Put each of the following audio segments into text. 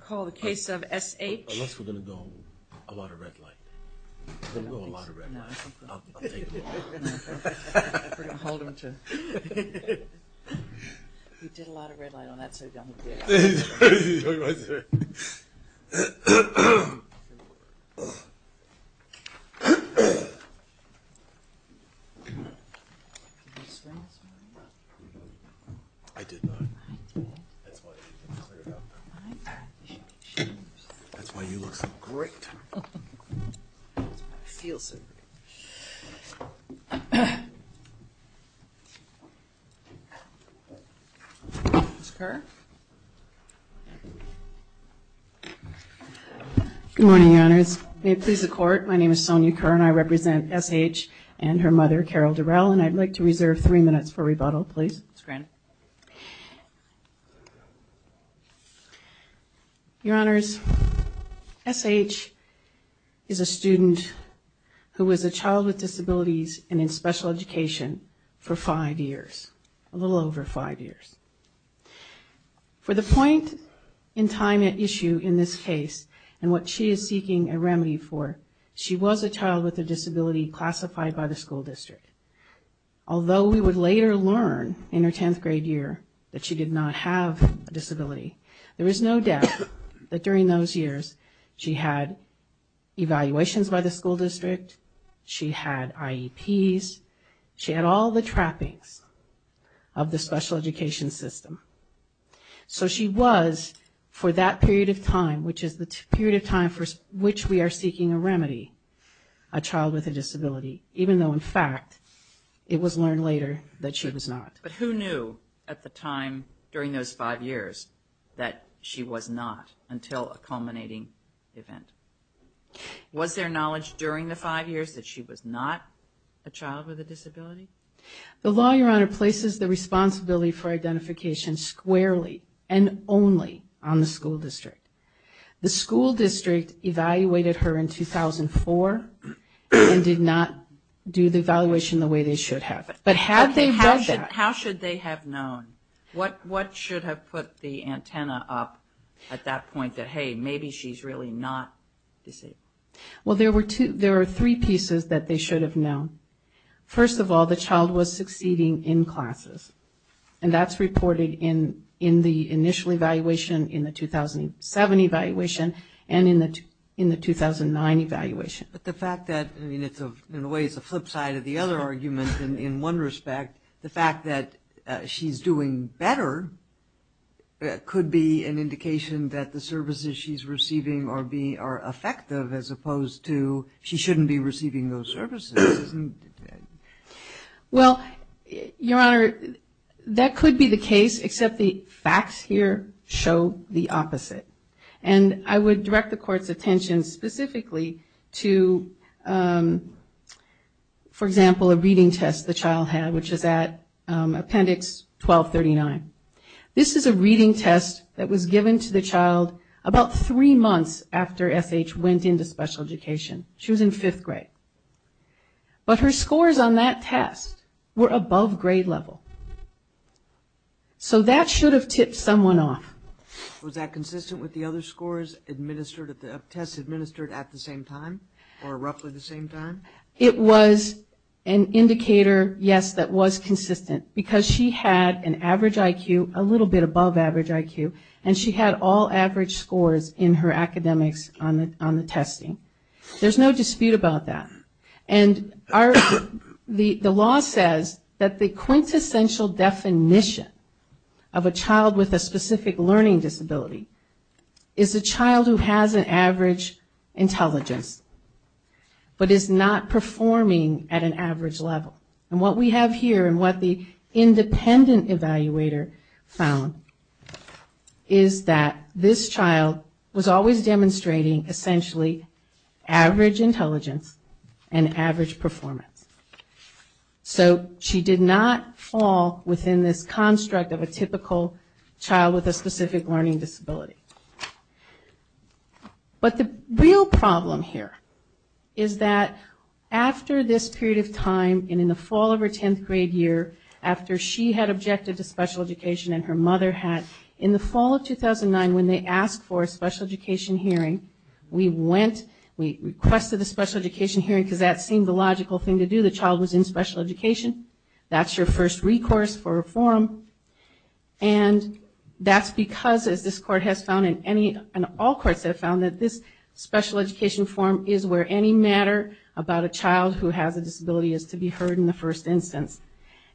Call the case of S.H. and her mother, Carol Durell, and I'd like to reserve three minutes for rebuttal, please. Your Honors, S.H. is a student who was a child with disabilities and in special education for five years, a little over five years. For the point in time at issue in this case and what she is seeking a remedy for, she was a child with a disability classified by the school district. Although we would later learn in her 10th grade year that she did not have a disability, there is no doubt that during those years she had evaluations by the school district, she had IEPs, she had all the trappings of the special education system. So she was, for that period of time, which is the period of time for which we are seeking a remedy, a child with a disability, even though in fact it was learned later that she was not. But who knew at the time during those five years that she was not until a culminating event? Was there knowledge during the five years that she was not a child with a disability? The law, Your Honor, places the responsibility for identification squarely and only on the school district. The school district evaluated her in 2004 and did not do the evaluation the way they should have. But had they done that- How should they have known? What should have put the antenna up at that point that, hey, maybe she's really not disabled? Well there were three pieces that they should have known. First of all, the child was succeeding in classes. And that's reported in the initial evaluation, in the 2007 evaluation, and in the 2009 evaluation. But the fact that, I mean, in a way it's a flip side of the other argument in one respect, the fact that she's doing better could be an indication that the services she's receiving are effective as opposed to she shouldn't be receiving those services, isn't it? Well, Your Honor, that could be the case, except the facts here show the opposite. And I would direct the Court's attention specifically to, for example, a reading test the child had, which is at Appendix 1239. This is a reading test that was given to the child about three months after S.H. went into special education. She was in fifth grade. But her scores on that test were above grade level. So that should have tipped someone off. Was that consistent with the other scores administered, tests administered at the same time, or roughly the same time? It was an indicator, yes, that was consistent, because she had an average IQ, a little bit above average IQ, and she had all average scores in her academics on the testing. There's no dispute about that. And the law says that the quintessential definition of a child with a specific learning disability is a child who has an average intelligence, but is not performing at an average level. And what we have here, and what the independent evaluator found, is that this child was always demonstrating, essentially, average intelligence and average performance. So she did not fall within this construct of a typical child with a specific learning disability. But the real problem here is that after this period of time, and in the fall of her tenth grade year, after she had objected to special education and her mother had, in the fall of 2009, when they asked for a special education hearing, we went, we requested a special education hearing, because that seemed the logical thing to do, the child was in special education. That's your first recourse for reform. And that's because, as this court has found, and all courts have found, that this special education forum is where any matter about a child who has a disability is to be heard in the first instance.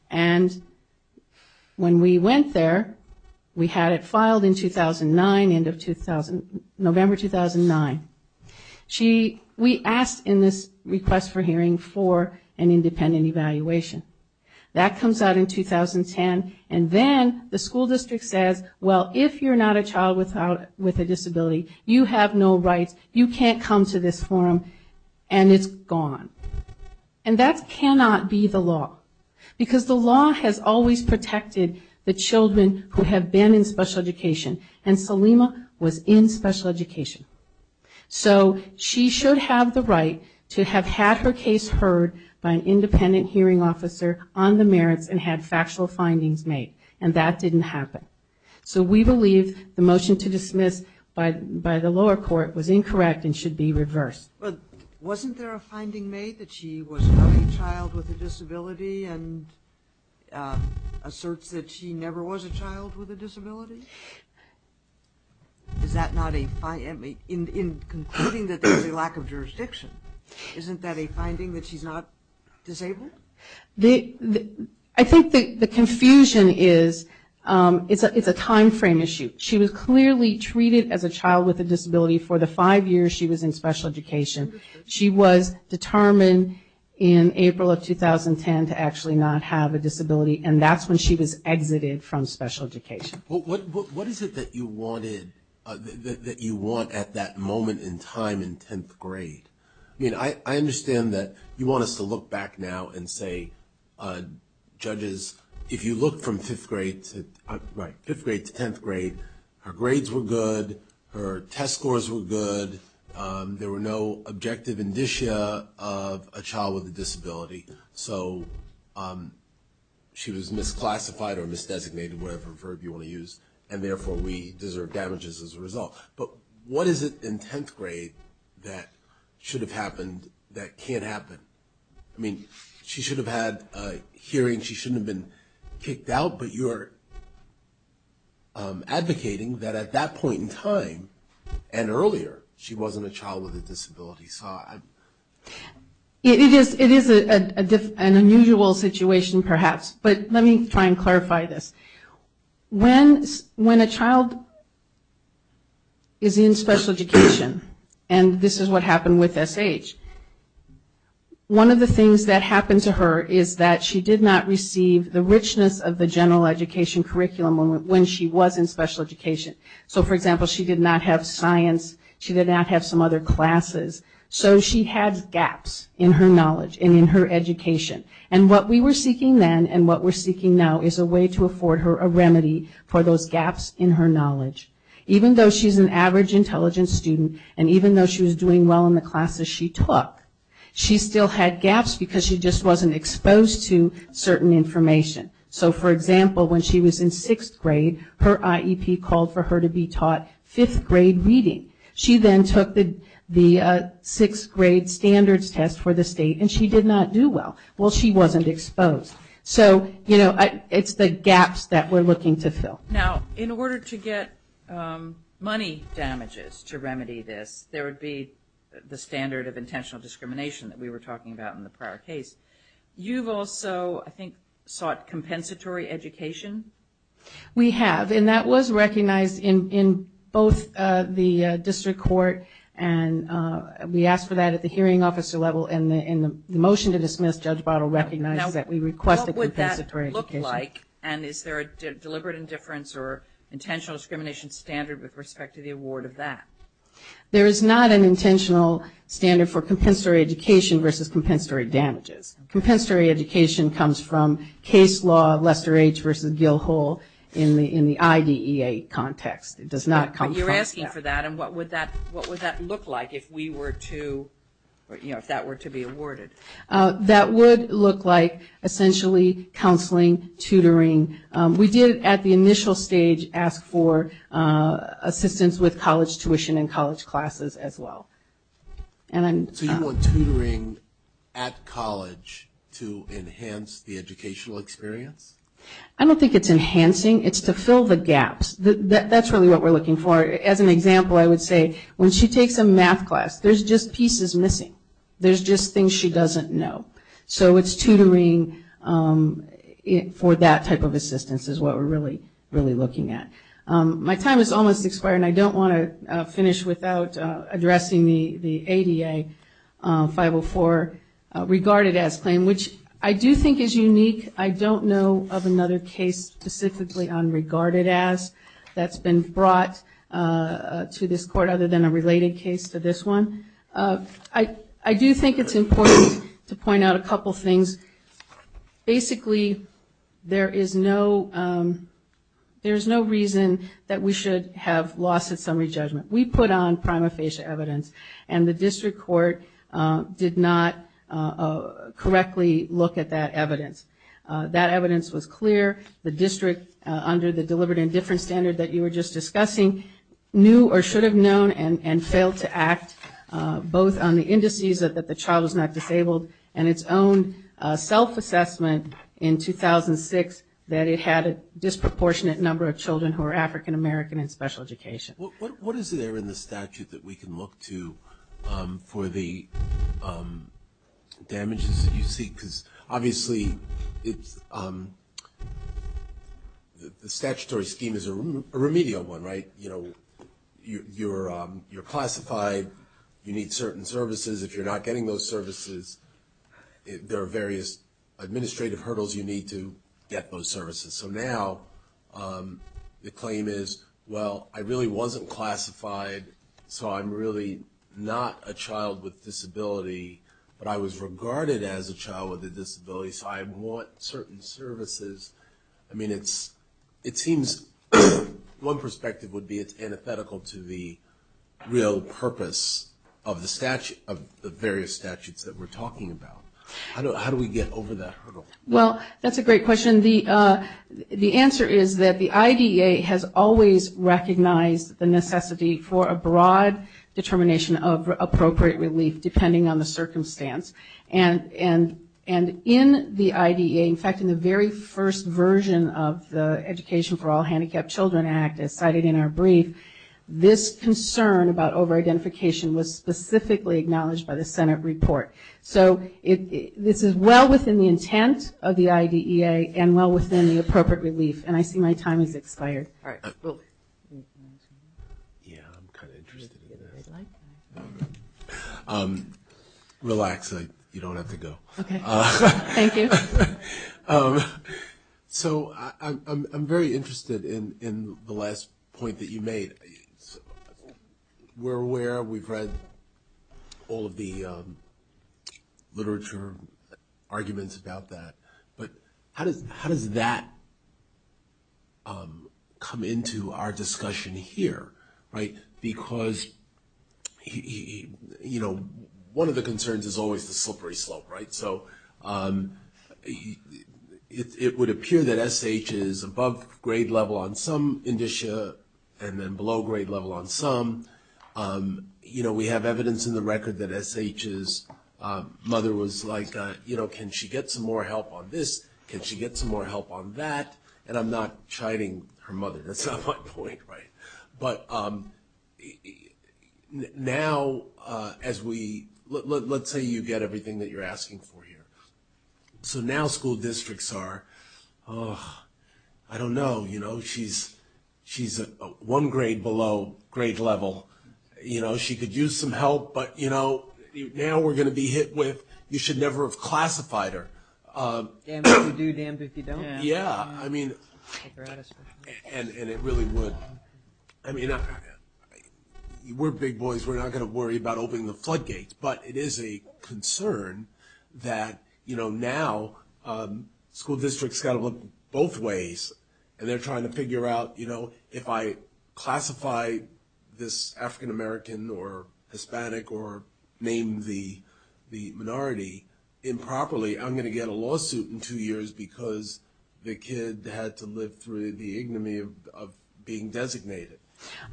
And when we went there, we had it filed in 2009, end of 2000, November 2009, we asked in this request for hearing for an independent evaluation. That comes out in 2010, and then the school district says, well, if you're not a child with a disability, you have no rights, you can't come to this forum, and it's gone. And that cannot be the law, because the law has always protected the children who have been in special education, and Salima was in special education. So she should have the right to have had her case heard by an independent hearing officer on the merits and had factual findings made, and that didn't happen. So we believe the motion to dismiss by the lower court was incorrect and should be reversed. But wasn't there a finding made that she was a young child with a disability and asserts that she never was a child with a disability? Is that not a, in concluding that there's a lack of jurisdiction, isn't that a finding that she's not disabled? I think the confusion is, it's a time frame issue. She was clearly treated as a child with a disability for the five years she was in special education. She was determined in April of 2010 to actually not have a disability, and that's when she was exited from special education. What is it that you wanted, that you want at that moment in time in 10th grade? I mean, I understand that you want us to look back now and say, judges, if you look from 5th grade to, right, 5th grade to 10th grade, her grades were good, her test scores were good, there were no objective indicia of a child with a disability, so she was misclassified or misdesignated, whatever verb you want to use, and therefore we deserve damages as a result. But what is it in 10th grade that should have happened that can't happen? I mean, she should have had a hearing, she shouldn't have been kicked out, but you're advocating that at that point in time and earlier, she wasn't a child with a disability. It is an unusual situation, perhaps, but let me try and clarify this. When a child is in special education, and this is what happened with SH, one of the things that happened to her is that she did not receive the richness of the general education curriculum when she was in special education. So for example, she did not have science, she did not have some other classes, so she had gaps in her knowledge and in her education. And what we were seeking then and what we're seeking now is a way to afford her a remedy for those gaps in her knowledge. Even though she's an average intelligent student, and even though she was doing well in the classes she took, she still had gaps because she just wasn't exposed to certain information. So for example, when she was in sixth grade, her IEP called for her to be taught fifth grade reading. She then took the sixth grade standards test for the state and she did not do well. Well, she wasn't exposed. So it's the gaps that we're looking to fill. Now in order to get money damages to remedy this, there would be the standard of intentional discrimination that we were talking about in the prior case. You've also, I think, sought compensatory education? We have. And that was recognized in both the district court and we asked for that at the hearing officer level and the motion to dismiss, Judge Bartle recognized that we requested compensatory education. Now what would that look like and is there a deliberate indifference or intentional discrimination standard with respect to the award of that? There is not an intentional standard for compensatory education versus compensatory damages. Compensatory education comes from case law, Lester H. versus Gil Hull in the IDEA context. It does not come from that. But you're asking for that and what would that look like if we were to, if that were to be awarded? That would look like essentially counseling, tutoring. We did at the initial stage ask for assistance with college tuition and college classes as well. So you want tutoring at college to enhance the educational experience? I don't think it's enhancing, it's to fill the gaps. That's really what we're looking for. As an example, I would say when she takes a math class, there's just pieces missing. There's just things she doesn't know. So it's tutoring for that type of assistance is what we're really looking at. My time is almost expired and I don't want to finish without addressing the ADA 504 regarded as claim, which I do think is unique. I don't know of another case specifically on regarded as that's been brought to this court other than a related case to this one. I do think it's important to point out a couple things. Basically there is no reason that we should have loss at summary judgment. We put on prima facie evidence and the district court did not correctly look at that evidence. That evidence was clear. The district under the deliberate indifference standard that you were just discussing knew or should have known and failed to act both on the indices that the child was not disabled and its own self-assessment in 2006 that it had a disproportionate number of children who were African American in special education. What is there in the statute that we can look to for the damages that you see? Obviously the statutory scheme is a remedial one, right? You're classified, you need certain services. If you're not getting those services, there are various administrative hurdles you need to get those services. So now the claim is, well, I really wasn't classified, so I'm really not a child with a disability, so I want certain services. It seems one perspective would be it's antithetical to the real purpose of the various statutes that we're talking about. How do we get over that hurdle? Well, that's a great question. The answer is that the IDA has always recognized the necessity for a broad determination of the circumstance, and in the IDEA, in fact in the very first version of the Education for All Handicapped Children Act as cited in our brief, this concern about over-identification was specifically acknowledged by the Senate report. So this is well within the intent of the IDEA and well within the appropriate relief, and I see my time has expired. Relax, you don't have to go. Okay, thank you. So I'm very interested in the last point that you made. We're aware, we've read all of the literature arguments about that, but how does that come into our discussion here? Because one of the concerns is always the slippery slope, right? It would appear that SH is above grade level on some indicia and then below grade level on some. We have evidence in the record that SH's mother was like, can she get some more help on this? Can she get some more help on that? And I'm not chiding her mother, that's not my point, right? But now as we, let's say you get everything that you're asking for here. So now school districts are, I don't know, you know, she's one grade below grade level. You know, she could use some help, but you know, now we're going to be hit with, you should never have classified her. Damned if you do, damned if you don't. Yeah, I mean, and it really would, I mean, we're big boys, we're not going to worry about opening the floodgates, but it is a concern that, you know, now school districts got to look both ways and they're trying to figure out, you know, if I classify this African American or Hispanic or name the minority improperly, I'm going to get a lawsuit in court because the kid had to live through the ignominy of being designated.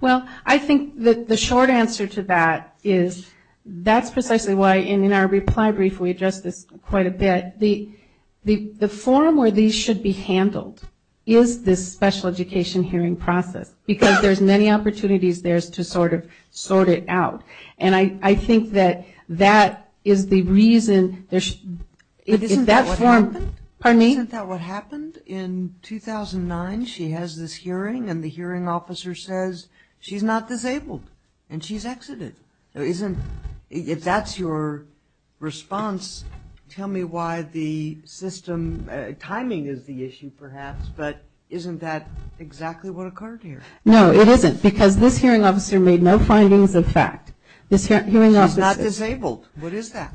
Well, I think that the short answer to that is, that's precisely why in our reply brief we address this quite a bit, the forum where these should be handled is this special education hearing process, because there's many opportunities there to sort of sort it out. And I think that that is the reason there should, if that forum, Isn't that what happened in 2009? She has this hearing and the hearing officer says, she's not disabled and she's exited. Isn't, if that's your response, tell me why the system, timing is the issue perhaps, but isn't that exactly what occurred here? No, it isn't, because this hearing officer made no findings of fact. This hearing officer, She's not disabled, what is that?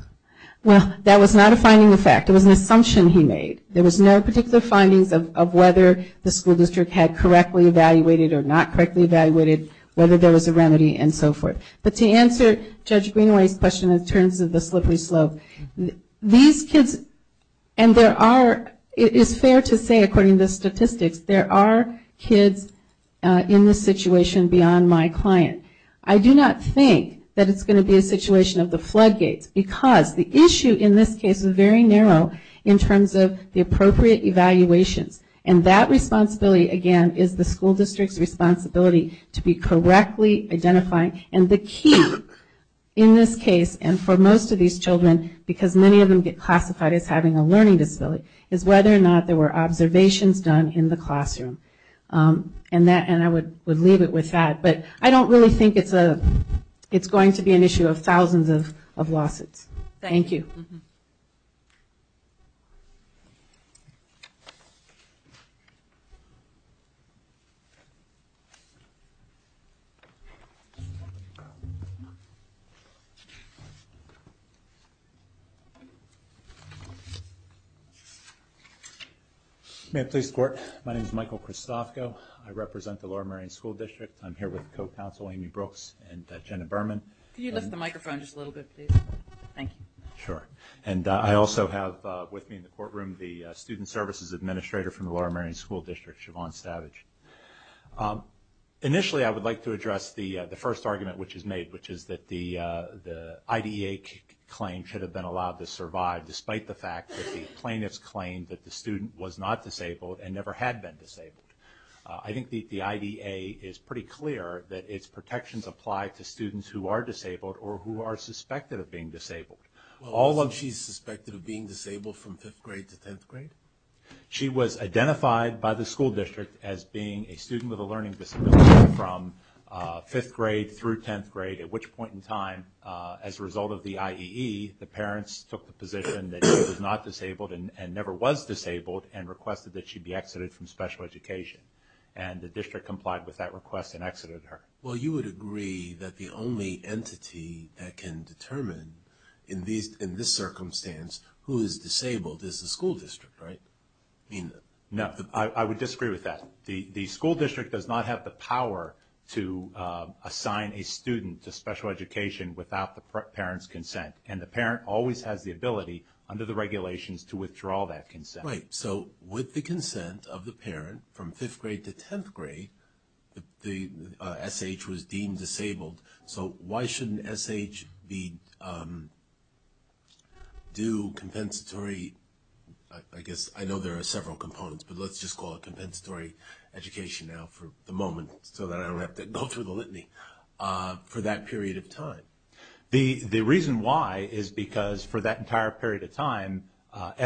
Well, that was not a finding of fact, it was an assumption he made. There was no particular findings of whether the school district had correctly evaluated or not correctly evaluated, whether there was a remedy and so forth. But to answer Judge Greenway's question in terms of the slippery slope, these kids, and there are, it is fair to say according to the statistics, there are kids in this situation beyond my client. I do not think that it's going to be a situation of the floodgates, because the issue in this case is very narrow in terms of the appropriate evaluations. And that responsibility again is the school district's responsibility to be correctly identifying. And the key in this case, and for most of these children, because many of them get classified as having a learning disability, is whether or not there were observations done in the classroom. And I would leave it with that. But I don't really think it's going to be an issue of thousands of lawsuits. Thank you. May I please squirt? My name is Michael Christofko. I represent the Laura Marion School District. I'm here with Co-Counsel Amy Brooks and Jenna Berman. Could you lift the microphone just a little bit, please? Thank you. Sure. And I also have with me in the courtroom the Student Services Administrator from the Laura Marion School District, Siobhan Stavage. Initially I would like to address the first argument which is made, which is that the IDEA claim should have been allowed to survive, despite the fact that the plaintiffs claimed that the student was not disabled and never had been disabled. I think the IDEA is pretty clear that its protections apply to students who are disabled or who are suspected of being disabled. Well, isn't she suspected of being disabled from fifth grade to tenth grade? She was identified by the school district as being a student with a learning disability from fifth grade through tenth grade, at which point in time, as a result of the IEE, the requested that she be exited from special education. And the district complied with that request and exited her. Well, you would agree that the only entity that can determine, in this circumstance, who is disabled is the school district, right? No. I would disagree with that. The school district does not have the power to assign a student to special education without the parent's consent, and the parent always has the ability, under the regulations, to do that. Right. So with the consent of the parent, from fifth grade to tenth grade, the SH was deemed disabled. So why shouldn't SH do compensatory, I guess, I know there are several components, but let's just call it compensatory education now, for the moment, so that I don't have to go through the litany, for that period of time? The reason why is because, for that entire period of time,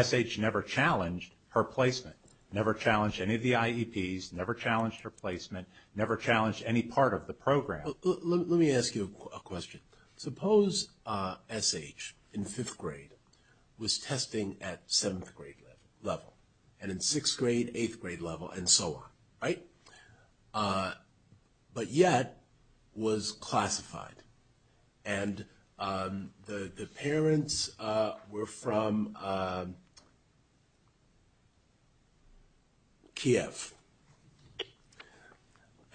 SH never challenged her placement, never challenged any of the IEPs, never challenged her placement, never challenged any part of the program. Let me ask you a question. Suppose SH, in fifth grade, was testing at seventh grade level, and in sixth grade, eighth grade level, and so on, right? But yet, was classified, and the parents were from Kiev,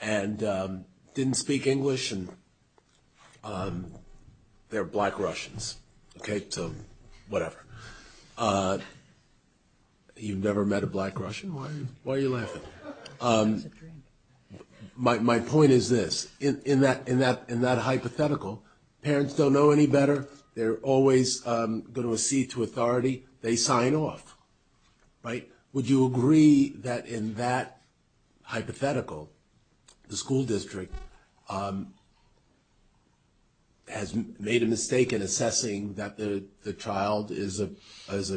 and didn't speak English, and they're black Russians, okay, so whatever. You've never met a black Russian? Why are you laughing? It's just a drink. My point is this, in that hypothetical, parents don't know any better, they're always going to accede to authority, they sign off, right? Would you agree that in that hypothetical, the school district has made a mistake in assessing that the child is a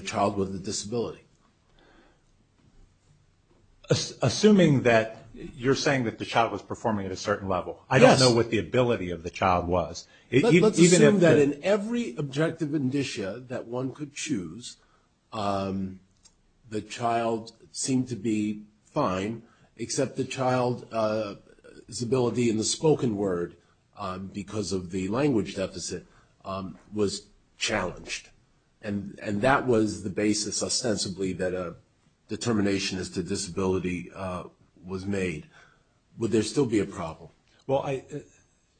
child with a disability? Assuming that you're saying that the child was performing at a certain level. I don't know what the ability of the child was. Let's assume that in every objective indicia that one could choose, the child seemed to be fine, except the child's ability in the spoken word, because of the language deficit, was challenged, and that was the basis, ostensibly, that a determination as to disability was made. Would there still be a problem? Well,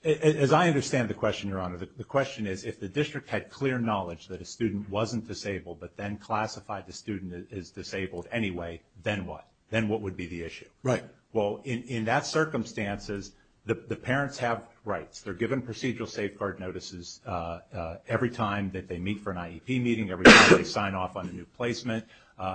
as I understand the question, Your Honor, the question is, if the district had clear knowledge that a student wasn't disabled, but then classified the student as disabled anyway, then what? Then what would be the issue? Right. Well, in that circumstances, the parents have rights. They're given procedural safeguard notices every time that they meet for an IEP meeting, every time they sign off on a new placement,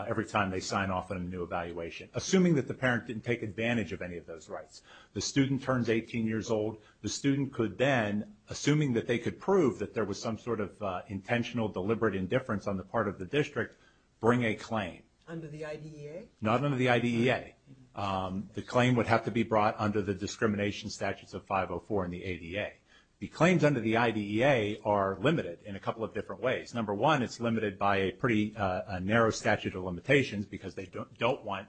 every time they sign off on a new evaluation. Assuming that the parent didn't take advantage of any of those rights. The student turns 18 years old, the student could then, assuming that they could prove that there was some sort of intentional, deliberate indifference on the part of the district, bring a claim. Under the IDEA? Not under the IDEA. The claim would have to be brought under the discrimination statutes of 504 in the ADA. The claims under the IDEA are limited in a couple of different ways. Number one, it's limited by a pretty narrow statute of limitations, because they don't want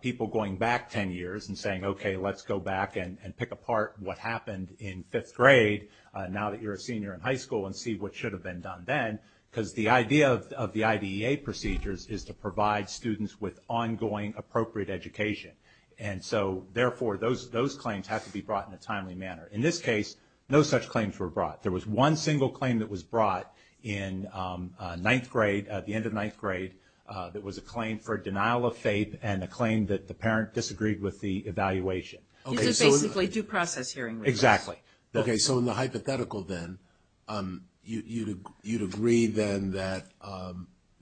people going back 10 years and saying, okay, let's go back and pick apart what happened in fifth grade, now that you're a senior in high school, and see what should have been done then. Because the idea of the IDEA procedures is to provide students with ongoing, appropriate education. And so, therefore, those claims have to be brought in a timely manner. In this case, no such claims were brought. There was one single claim that was brought in ninth grade, at the end of ninth grade, that was a claim for denial of faith, and a claim that the parent disagreed with the evaluation. Okay, so... It's a basically due process hearing. Exactly. Okay, so in the hypothetical then, you'd agree then that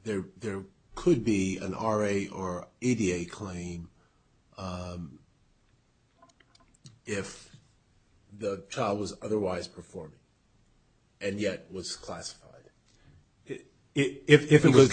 there could be an RA or ADA claim if the child was otherwise performing, and yet was classified. If it was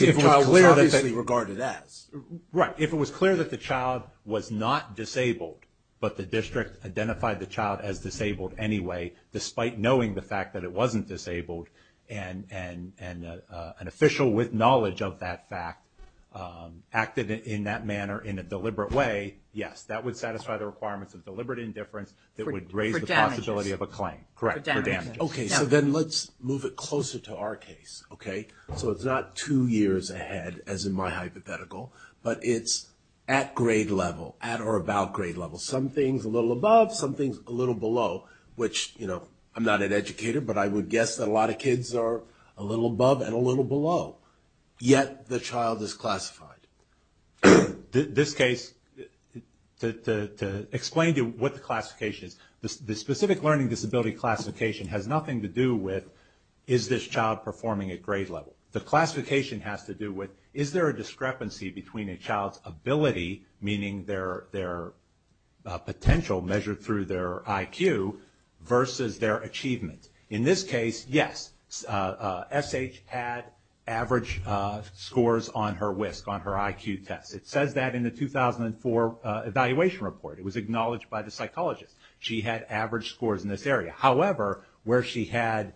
clear that the child was not disabled, but the district identified the child as disabled anyway, despite knowing the fact that it wasn't disabled, and an official with knowledge of that fact acted in that manner, in a deliberate way, yes, that would satisfy the requirements of deliberate indifference that would raise the possibility of a claim. For damages. Correct. For damages. Okay, so then let's move it closer to our case. Okay? So it's not two years ahead, as in my hypothetical, but it's at grade level, at or about grade level. Some things a little above, some things a little below, which I'm not an educator, but I would guess that a lot of kids are a little above and a little below. Yet, the child is classified. This case, to explain to you what the classification is, the specific learning disability classification has nothing to do with, is this child performing at grade level? The classification has to do with, is there a discrepancy between a child's ability, meaning their potential measured through their IQ, versus their achievement? In this case, yes, S.H. had average scores on her WISC, on her IQ test. It says that in the 2004 evaluation report. It was acknowledged by the psychologist. She had average scores in this area. However, where she had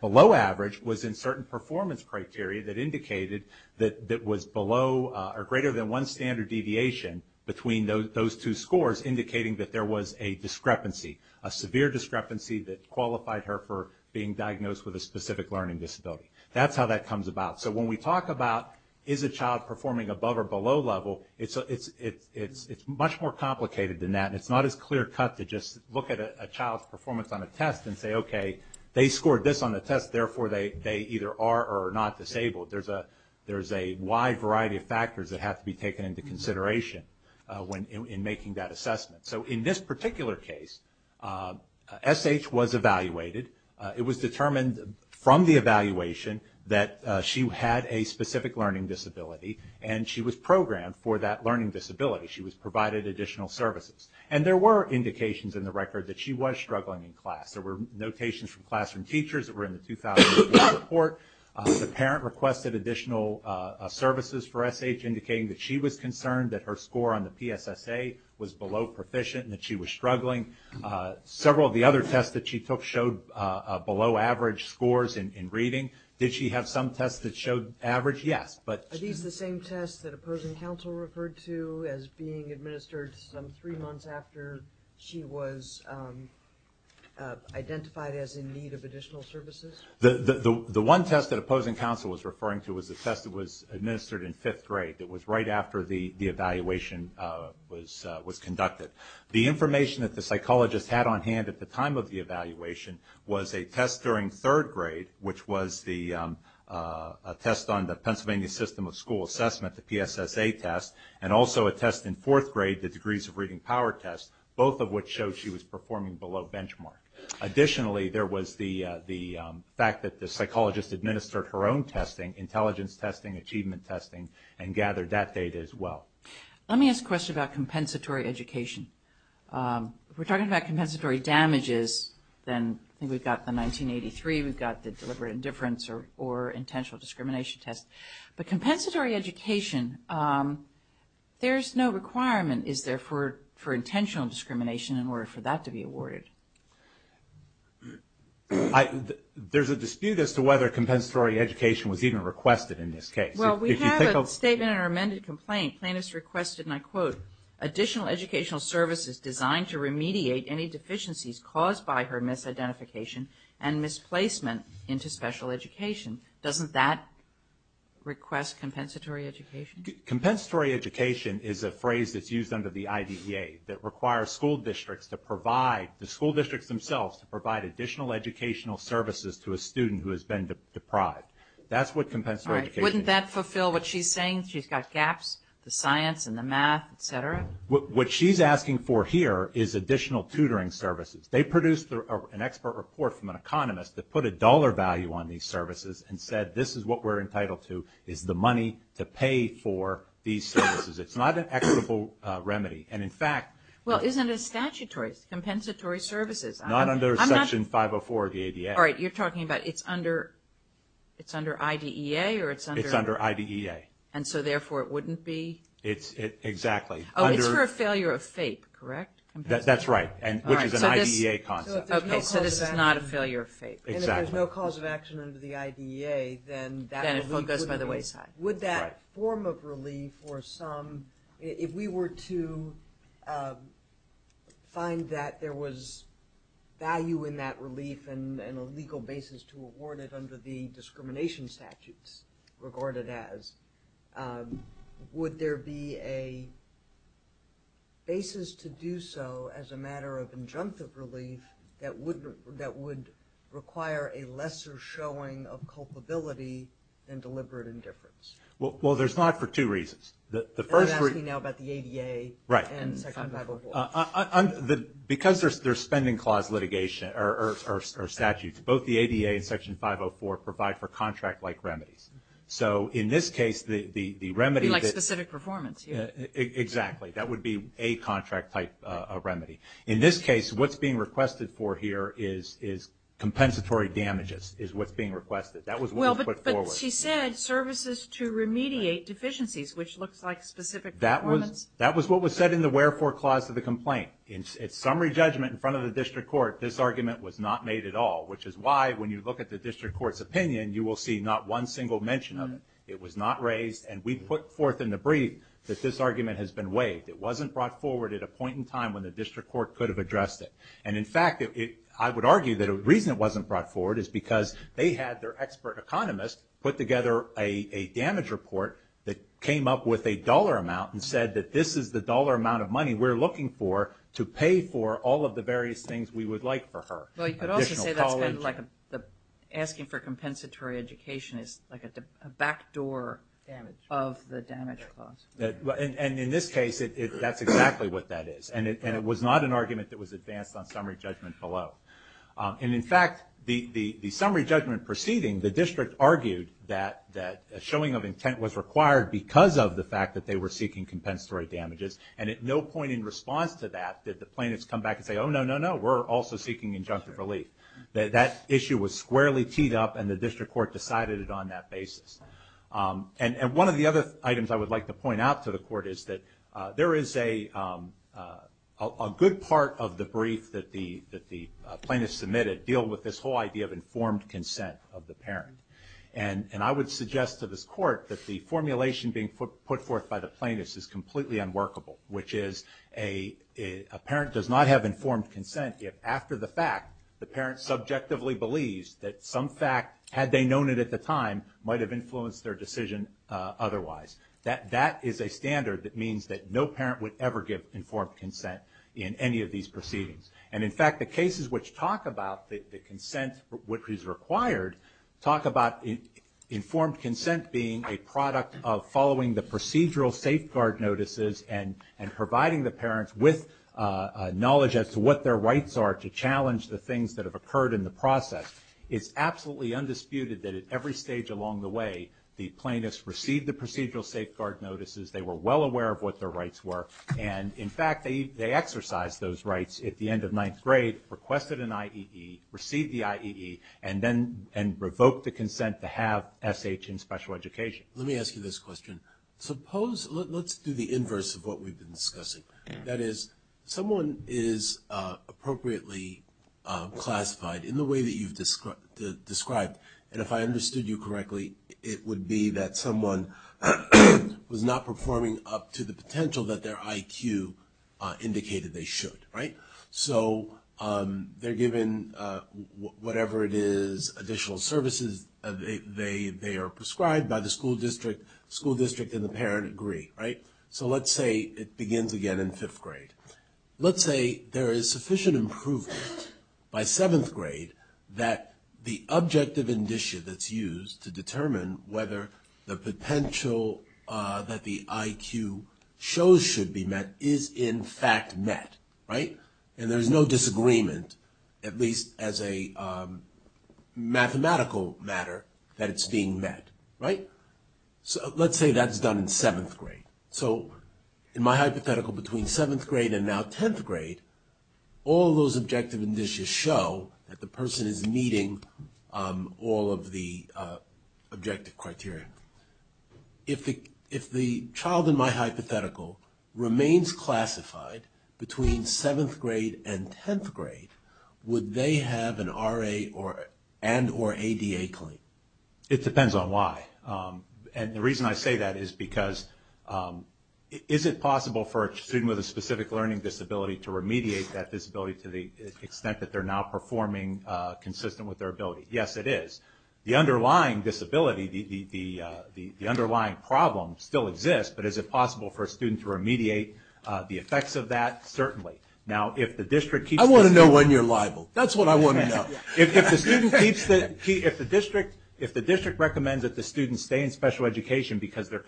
below average was in certain performance criteria that indicated that it was below or greater than one standard deviation between those two scores, indicating that there was a discrepancy, a severe discrepancy that qualified her for being diagnosed with a specific learning disability. That's how that comes about. When we talk about, is a child performing above or below level, it's much more complicated than that. It's not as clear cut to just look at a child's performance on a test and say, okay, they scored this on a test, therefore they either are or are not disabled. There's a wide variety of factors that have to be taken into consideration in making that assessment. In this particular case, S.H. was evaluated. It was determined from the evaluation that she had a specific learning disability and she was programmed for that learning disability. She was provided additional services. There were indications in the record that she was struggling in class. There were notations from classroom teachers that were in the 2004 report. The parent requested additional services for S.H. indicating that she was concerned that her score on the PSSA was below proficient and that she was struggling. Several of the other tests that she took showed below average scores in reading. Did she have some tests that showed average? Yes. Are these the same tests that Opposing Counsel referred to as being administered some three months after she was identified as in need of additional services? The one test that Opposing Counsel was referring to was a test that was administered in fifth grade. It was right after the evaluation was conducted. The information that the psychologist had on hand at the time of the evaluation was a test during third grade, which was a test on the Pennsylvania System of School Assessment, the PSSA test, and also a test in fourth grade, the degrees of reading power test, both of which showed she was performing below benchmark. Additionally, there was the fact that the psychologist administered her own testing, intelligence testing, achievement testing, and gathered that data as well. Let me ask a question about compensatory education. We're talking about compensatory damages. Then we've got the 1983, we've got the deliberate indifference or intentional discrimination test. But compensatory education, there's no requirement, is there, for intentional discrimination in order for that to be awarded? There's a dispute as to whether compensatory education was even requested in this case. Well, we have a statement in our amended complaint. Plaintiffs requested, and I quote, additional educational services designed to remediate any deficiencies caused by her misidentification and misplacement into special education. Doesn't that request compensatory education? Compensatory education is a phrase that's used under the IDEA that requires school districts to provide, the school districts themselves, to provide additional educational services to a student who has been deprived. That's what compensatory education is. All right. Wouldn't that fulfill what she's saying? She's got gaps, the science and the math, et cetera? What she's asking for here is additional tutoring services. They produced an expert report from an economist that put a dollar value on these services and said, this is what we're entitled to, is the money to pay for these services. It's not an equitable remedy. And in fact- Well, isn't it statutory, compensatory services? Not under section 504 of the IDEA. All right. You're talking about it's under IDEA or it's under- It's under IDEA. And so therefore, it wouldn't be? It's exactly. Oh, it's for a failure of FAPE, correct? That's right. And which is an IDEA concept. Okay. So this is not a failure of FAPE. Exactly. And if there's no cause of action under the IDEA, then that relief wouldn't be- Then it goes by the wayside. Would that form of relief or some, if we were to find that there was value in that relief and a legal basis to award it under the discrimination statutes regarded as, would there be a basis to do so as a matter of injunctive relief that would require a lesser showing of culpability and deliberate indifference? Well, there's not for two reasons. The first- And I'm asking now about the ADA and section 504. Right. Because there's spending clause litigation or statutes, both the ADA and section 504 provide for contract-like remedies. So in this case, the remedy- It'd be like specific performance, yeah. Exactly. That would be a contract-type remedy. In this case, what's being requested for here is compensatory damages is what's being requested. That was what was put forward. Well, but she said services to remediate deficiencies, which looks like specific performance. That was what was said in the wherefore clause of the complaint. In summary judgment in front of the district court, this argument was not made at all, which is why when you look at the district court's opinion, you will see not one single mention of it. It was not raised and we put forth in the brief that this argument has been waived. It wasn't brought forward at a point in time when the district court could have addressed it. And in fact, I would argue that the reason it wasn't brought forward is because they had their expert economist put together a damage report that came up with a dollar amount and said that this is the dollar amount of money we're looking for to pay for all of the various things we would like for her. Well, you could also say that's kind of like asking for compensatory education is like a backdoor of the damage clause. And in this case, that's exactly what that is. And it was not an argument that was advanced on summary judgment below. And in fact, the summary judgment proceeding, the district argued that a showing of intent was required because of the fact that they were seeking compensatory damages. And at no point in response to that did the plaintiffs come back and say, oh no, no, no, we're also seeking injunctive relief. That issue was squarely teed up and the district court decided it on that basis. And one of the other items I would like to point out to the court is that there is a good part of the brief that the plaintiffs submitted deal with this whole idea of informed consent of the parent. And I would suggest to this court that the formulation being put forth by the plaintiffs is completely unworkable, which is a parent does not have informed consent if after the fact, the parent subjectively believes that some fact, had they known it at the time, might have influenced their decision otherwise. That is a standard that means that no parent would ever give informed consent in any of these proceedings. And in fact, the cases which talk about the consent which is required, talk about informed consent being a product of following the procedural safeguard notices and providing the parents with knowledge as to what their rights are to challenge the things that have occurred in the process. It's absolutely undisputed that at every stage along the way, the plaintiffs receive the procedural safeguard notices, they were well aware of what their rights were, and in fact, they exercised those rights at the end of 9th grade, requested an IEE, received the IEE, and then revoked the consent to have SH in special education. Let me ask you this question. Suppose let's do the inverse of what we've been discussing. That is, someone is appropriately classified in the way that you've described, and if I was not performing up to the potential that their IQ indicated they should, right? So they're given whatever it is, additional services, they are prescribed by the school district, school district and the parent agree, right? So let's say it begins again in 5th grade. Let's say there is sufficient improvement by 7th grade that the objective indicia that's determined, whether the potential that the IQ shows should be met is in fact met, right? And there's no disagreement, at least as a mathematical matter, that it's being met, right? So let's say that's done in 7th grade. So in my hypothetical, between 7th grade and now 10th grade, all those objective indicia show that the person is meeting all of the objective criteria. If the child in my hypothetical remains classified between 7th grade and 10th grade, would they have an RA and or ADA claim? It depends on why, and the reason I say that is because is it possible for a student with a specific learning disability to remediate that disability to the extent that they're now performing consistent with their ability? Yes it is. The underlying disability, the underlying problem still exists, but is it possible for a student to remediate the effects of that? Certainly. Now if the district keeps... I want to know when you're liable. That's what I want to know. If the district recommends that the student stay in special education because they're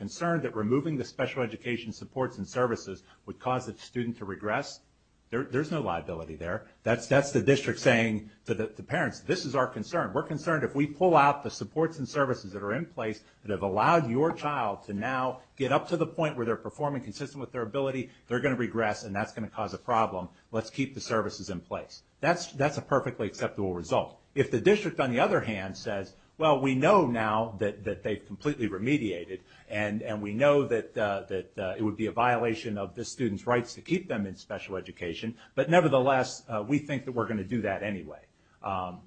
to regress, there's no liability there. That's the district saying to the parents, this is our concern. We're concerned if we pull out the supports and services that are in place that have allowed your child to now get up to the point where they're performing consistent with their ability, they're going to regress and that's going to cause a problem. Let's keep the services in place. That's a perfectly acceptable result. If the district on the other hand says, well we know now that they've completely remediated and we know that it would be a violation of the student's rights to keep them in special education, but nevertheless we think that we're going to do that anyway,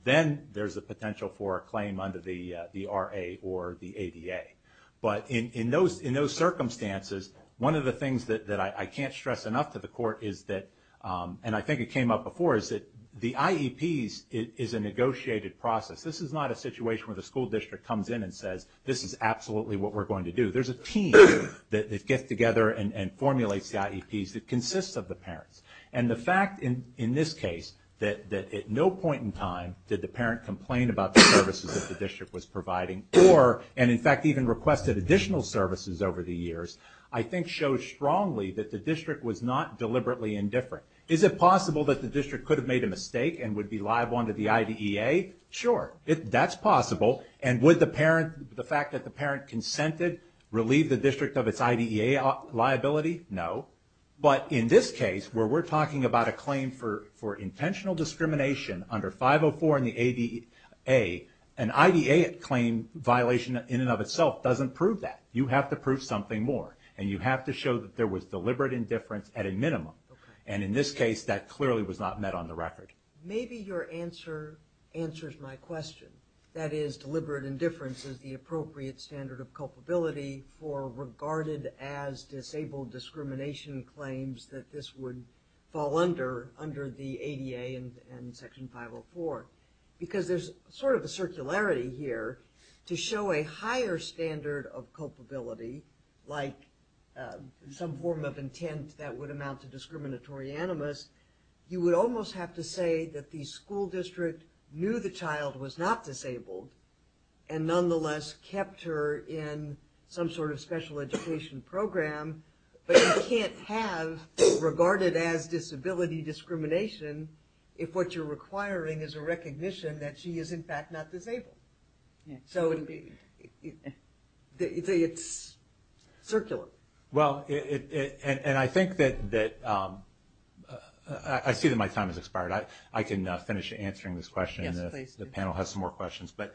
then there's a potential for a claim under the RA or the ADA. But in those circumstances, one of the things that I can't stress enough to the court is that, and I think it came up before, is that the IEPs is a negotiated process. This is not a situation where the school district comes in and says, this is absolutely what we're going to do. There's a team that gets together and formulates the IEPs that consists of the parents. And the fact in this case that at no point in time did the parent complain about the services that the district was providing or, and in fact even requested additional services over the years, I think shows strongly that the district was not deliberately indifferent. Is it possible that the district could have made a mistake and would be liable under the IDEA? Sure. That's possible. And would the parent, the fact that the parent consented, relieve the district of its IDEA liability? No. But in this case, where we're talking about a claim for intentional discrimination under 504 and the ADA, an IDEA claim violation in and of itself doesn't prove that. You have to prove something more, and you have to show that there was deliberate indifference at a minimum. And in this case, that clearly was not met on the record. Maybe your answer answers my question. That is, deliberate indifference is the appropriate standard of culpability for regarded as disabled discrimination claims that this would fall under, under the ADA and Section 504. Because there's sort of a circularity here. To show a higher standard of culpability, like some form of intent that would amount to discriminatory animus, you would almost have to say that the school district knew the child was not disabled, and nonetheless kept her in some sort of special education program. But you can't have regarded as disability discrimination if what you're requiring is a recognition that she is, in fact, not disabled. So it's circular. And I think that, I see that my time has expired. I can finish answering this question, and the panel has some more questions. But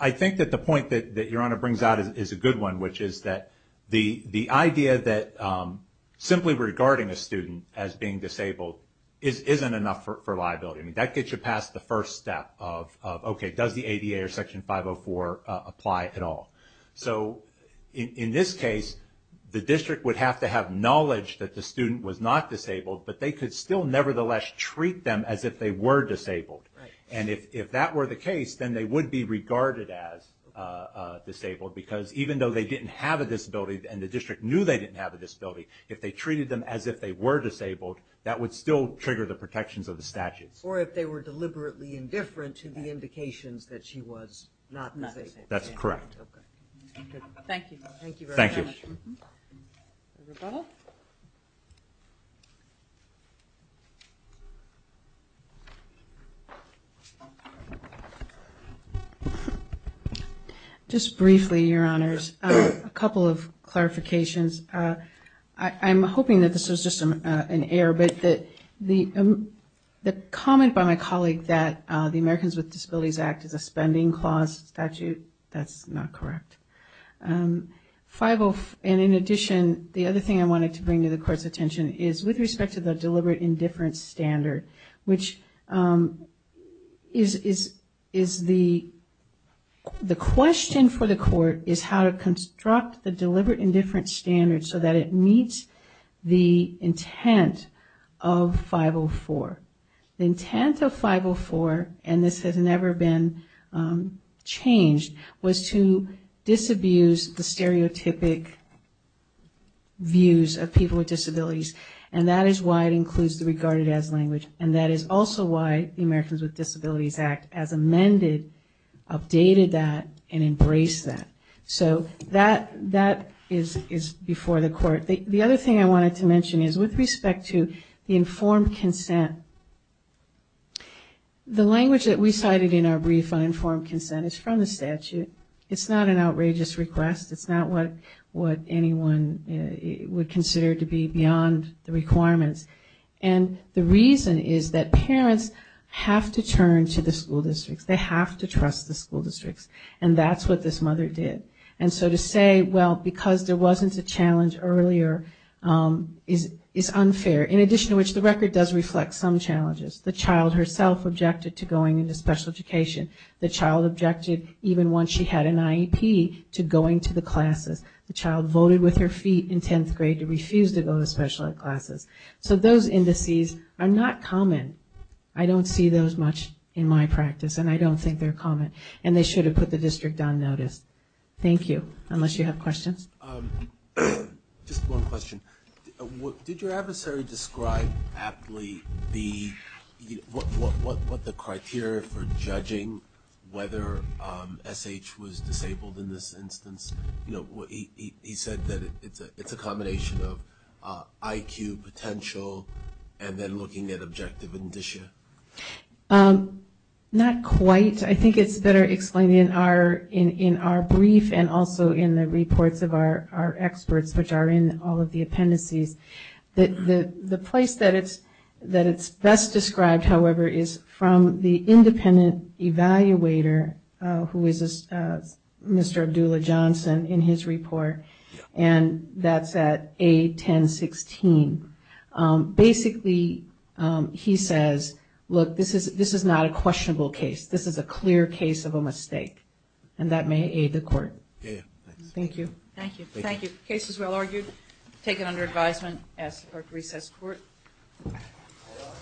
I think that the point that Your Honor brings out is a good one, which is that the idea that simply regarding a student as being disabled isn't enough for liability. That gets you past the first step of, okay, does the ADA or Section 504 apply at all? So in this case, the district would have to have knowledge that the student was not disabled, but they could still nevertheless treat them as if they were disabled. And if that were the case, then they would be regarded as disabled, because even though they didn't have a disability, and the district knew they didn't have a disability, if they treated them as if they were disabled, that would still trigger the protections of the statutes. Or if they were deliberately indifferent to the indications that she was not disabled. That's correct. Okay. Thank you. Thank you very much. Thank you. Rebuttal? No. Thank you. Just briefly, Your Honors, a couple of clarifications. I'm hoping that this was just an error, but the comment by my colleague that the Americans with Disabilities Act is a spending clause statute, that's not correct. And in addition, the other thing I wanted to bring to the Court's attention is with respect to the deliberate indifference standard, which is the question for the Court is how to construct the deliberate indifference standard so that it meets the intent of 504. The intent of 504, and this has never been changed, was to disabuse the stereotypic views of people with disabilities, and that is why it includes the regarded as language, and that is also why the Americans with Disabilities Act as amended updated that and embraced that. So that is before the Court. The other thing I wanted to mention is with respect to the informed consent, the language that we cited in our brief on informed consent is from the statute. It's not an outrageous request. It's not what anyone would consider to be beyond the requirements. And the reason is that parents have to turn to the school districts. They have to trust the school districts, and that's what this mother did. And so to say, well, because there wasn't a challenge earlier is unfair, in addition to which the record does reflect some challenges. The child herself objected to going into special education. The child objected, even once she had an IEP, to going to the classes. The child voted with her feet in 10th grade to refuse to go to special ed classes. So those indices are not common. I don't see those much in my practice, and I don't think they're common, and they should be put the district on notice. Thank you. Unless you have questions. Just one question. Did your adversary describe aptly what the criteria for judging whether SH was disabled in this instance? He said that it's a combination of IQ, potential, and then looking at objective indicia. Not quite. I think it's better explained in our brief and also in the reports of our experts, which are in all of the appendices. The place that it's best described, however, is from the independent evaluator, who is Mr. Abdullah Johnson, in his report, and that's at A1016. Basically, he says, look, this is not a questionable case. This is a clear case of a mistake, and that may aid the court. Thank you. Thank you. Case is well argued. Taken under advisement. Ask the court to recess the court.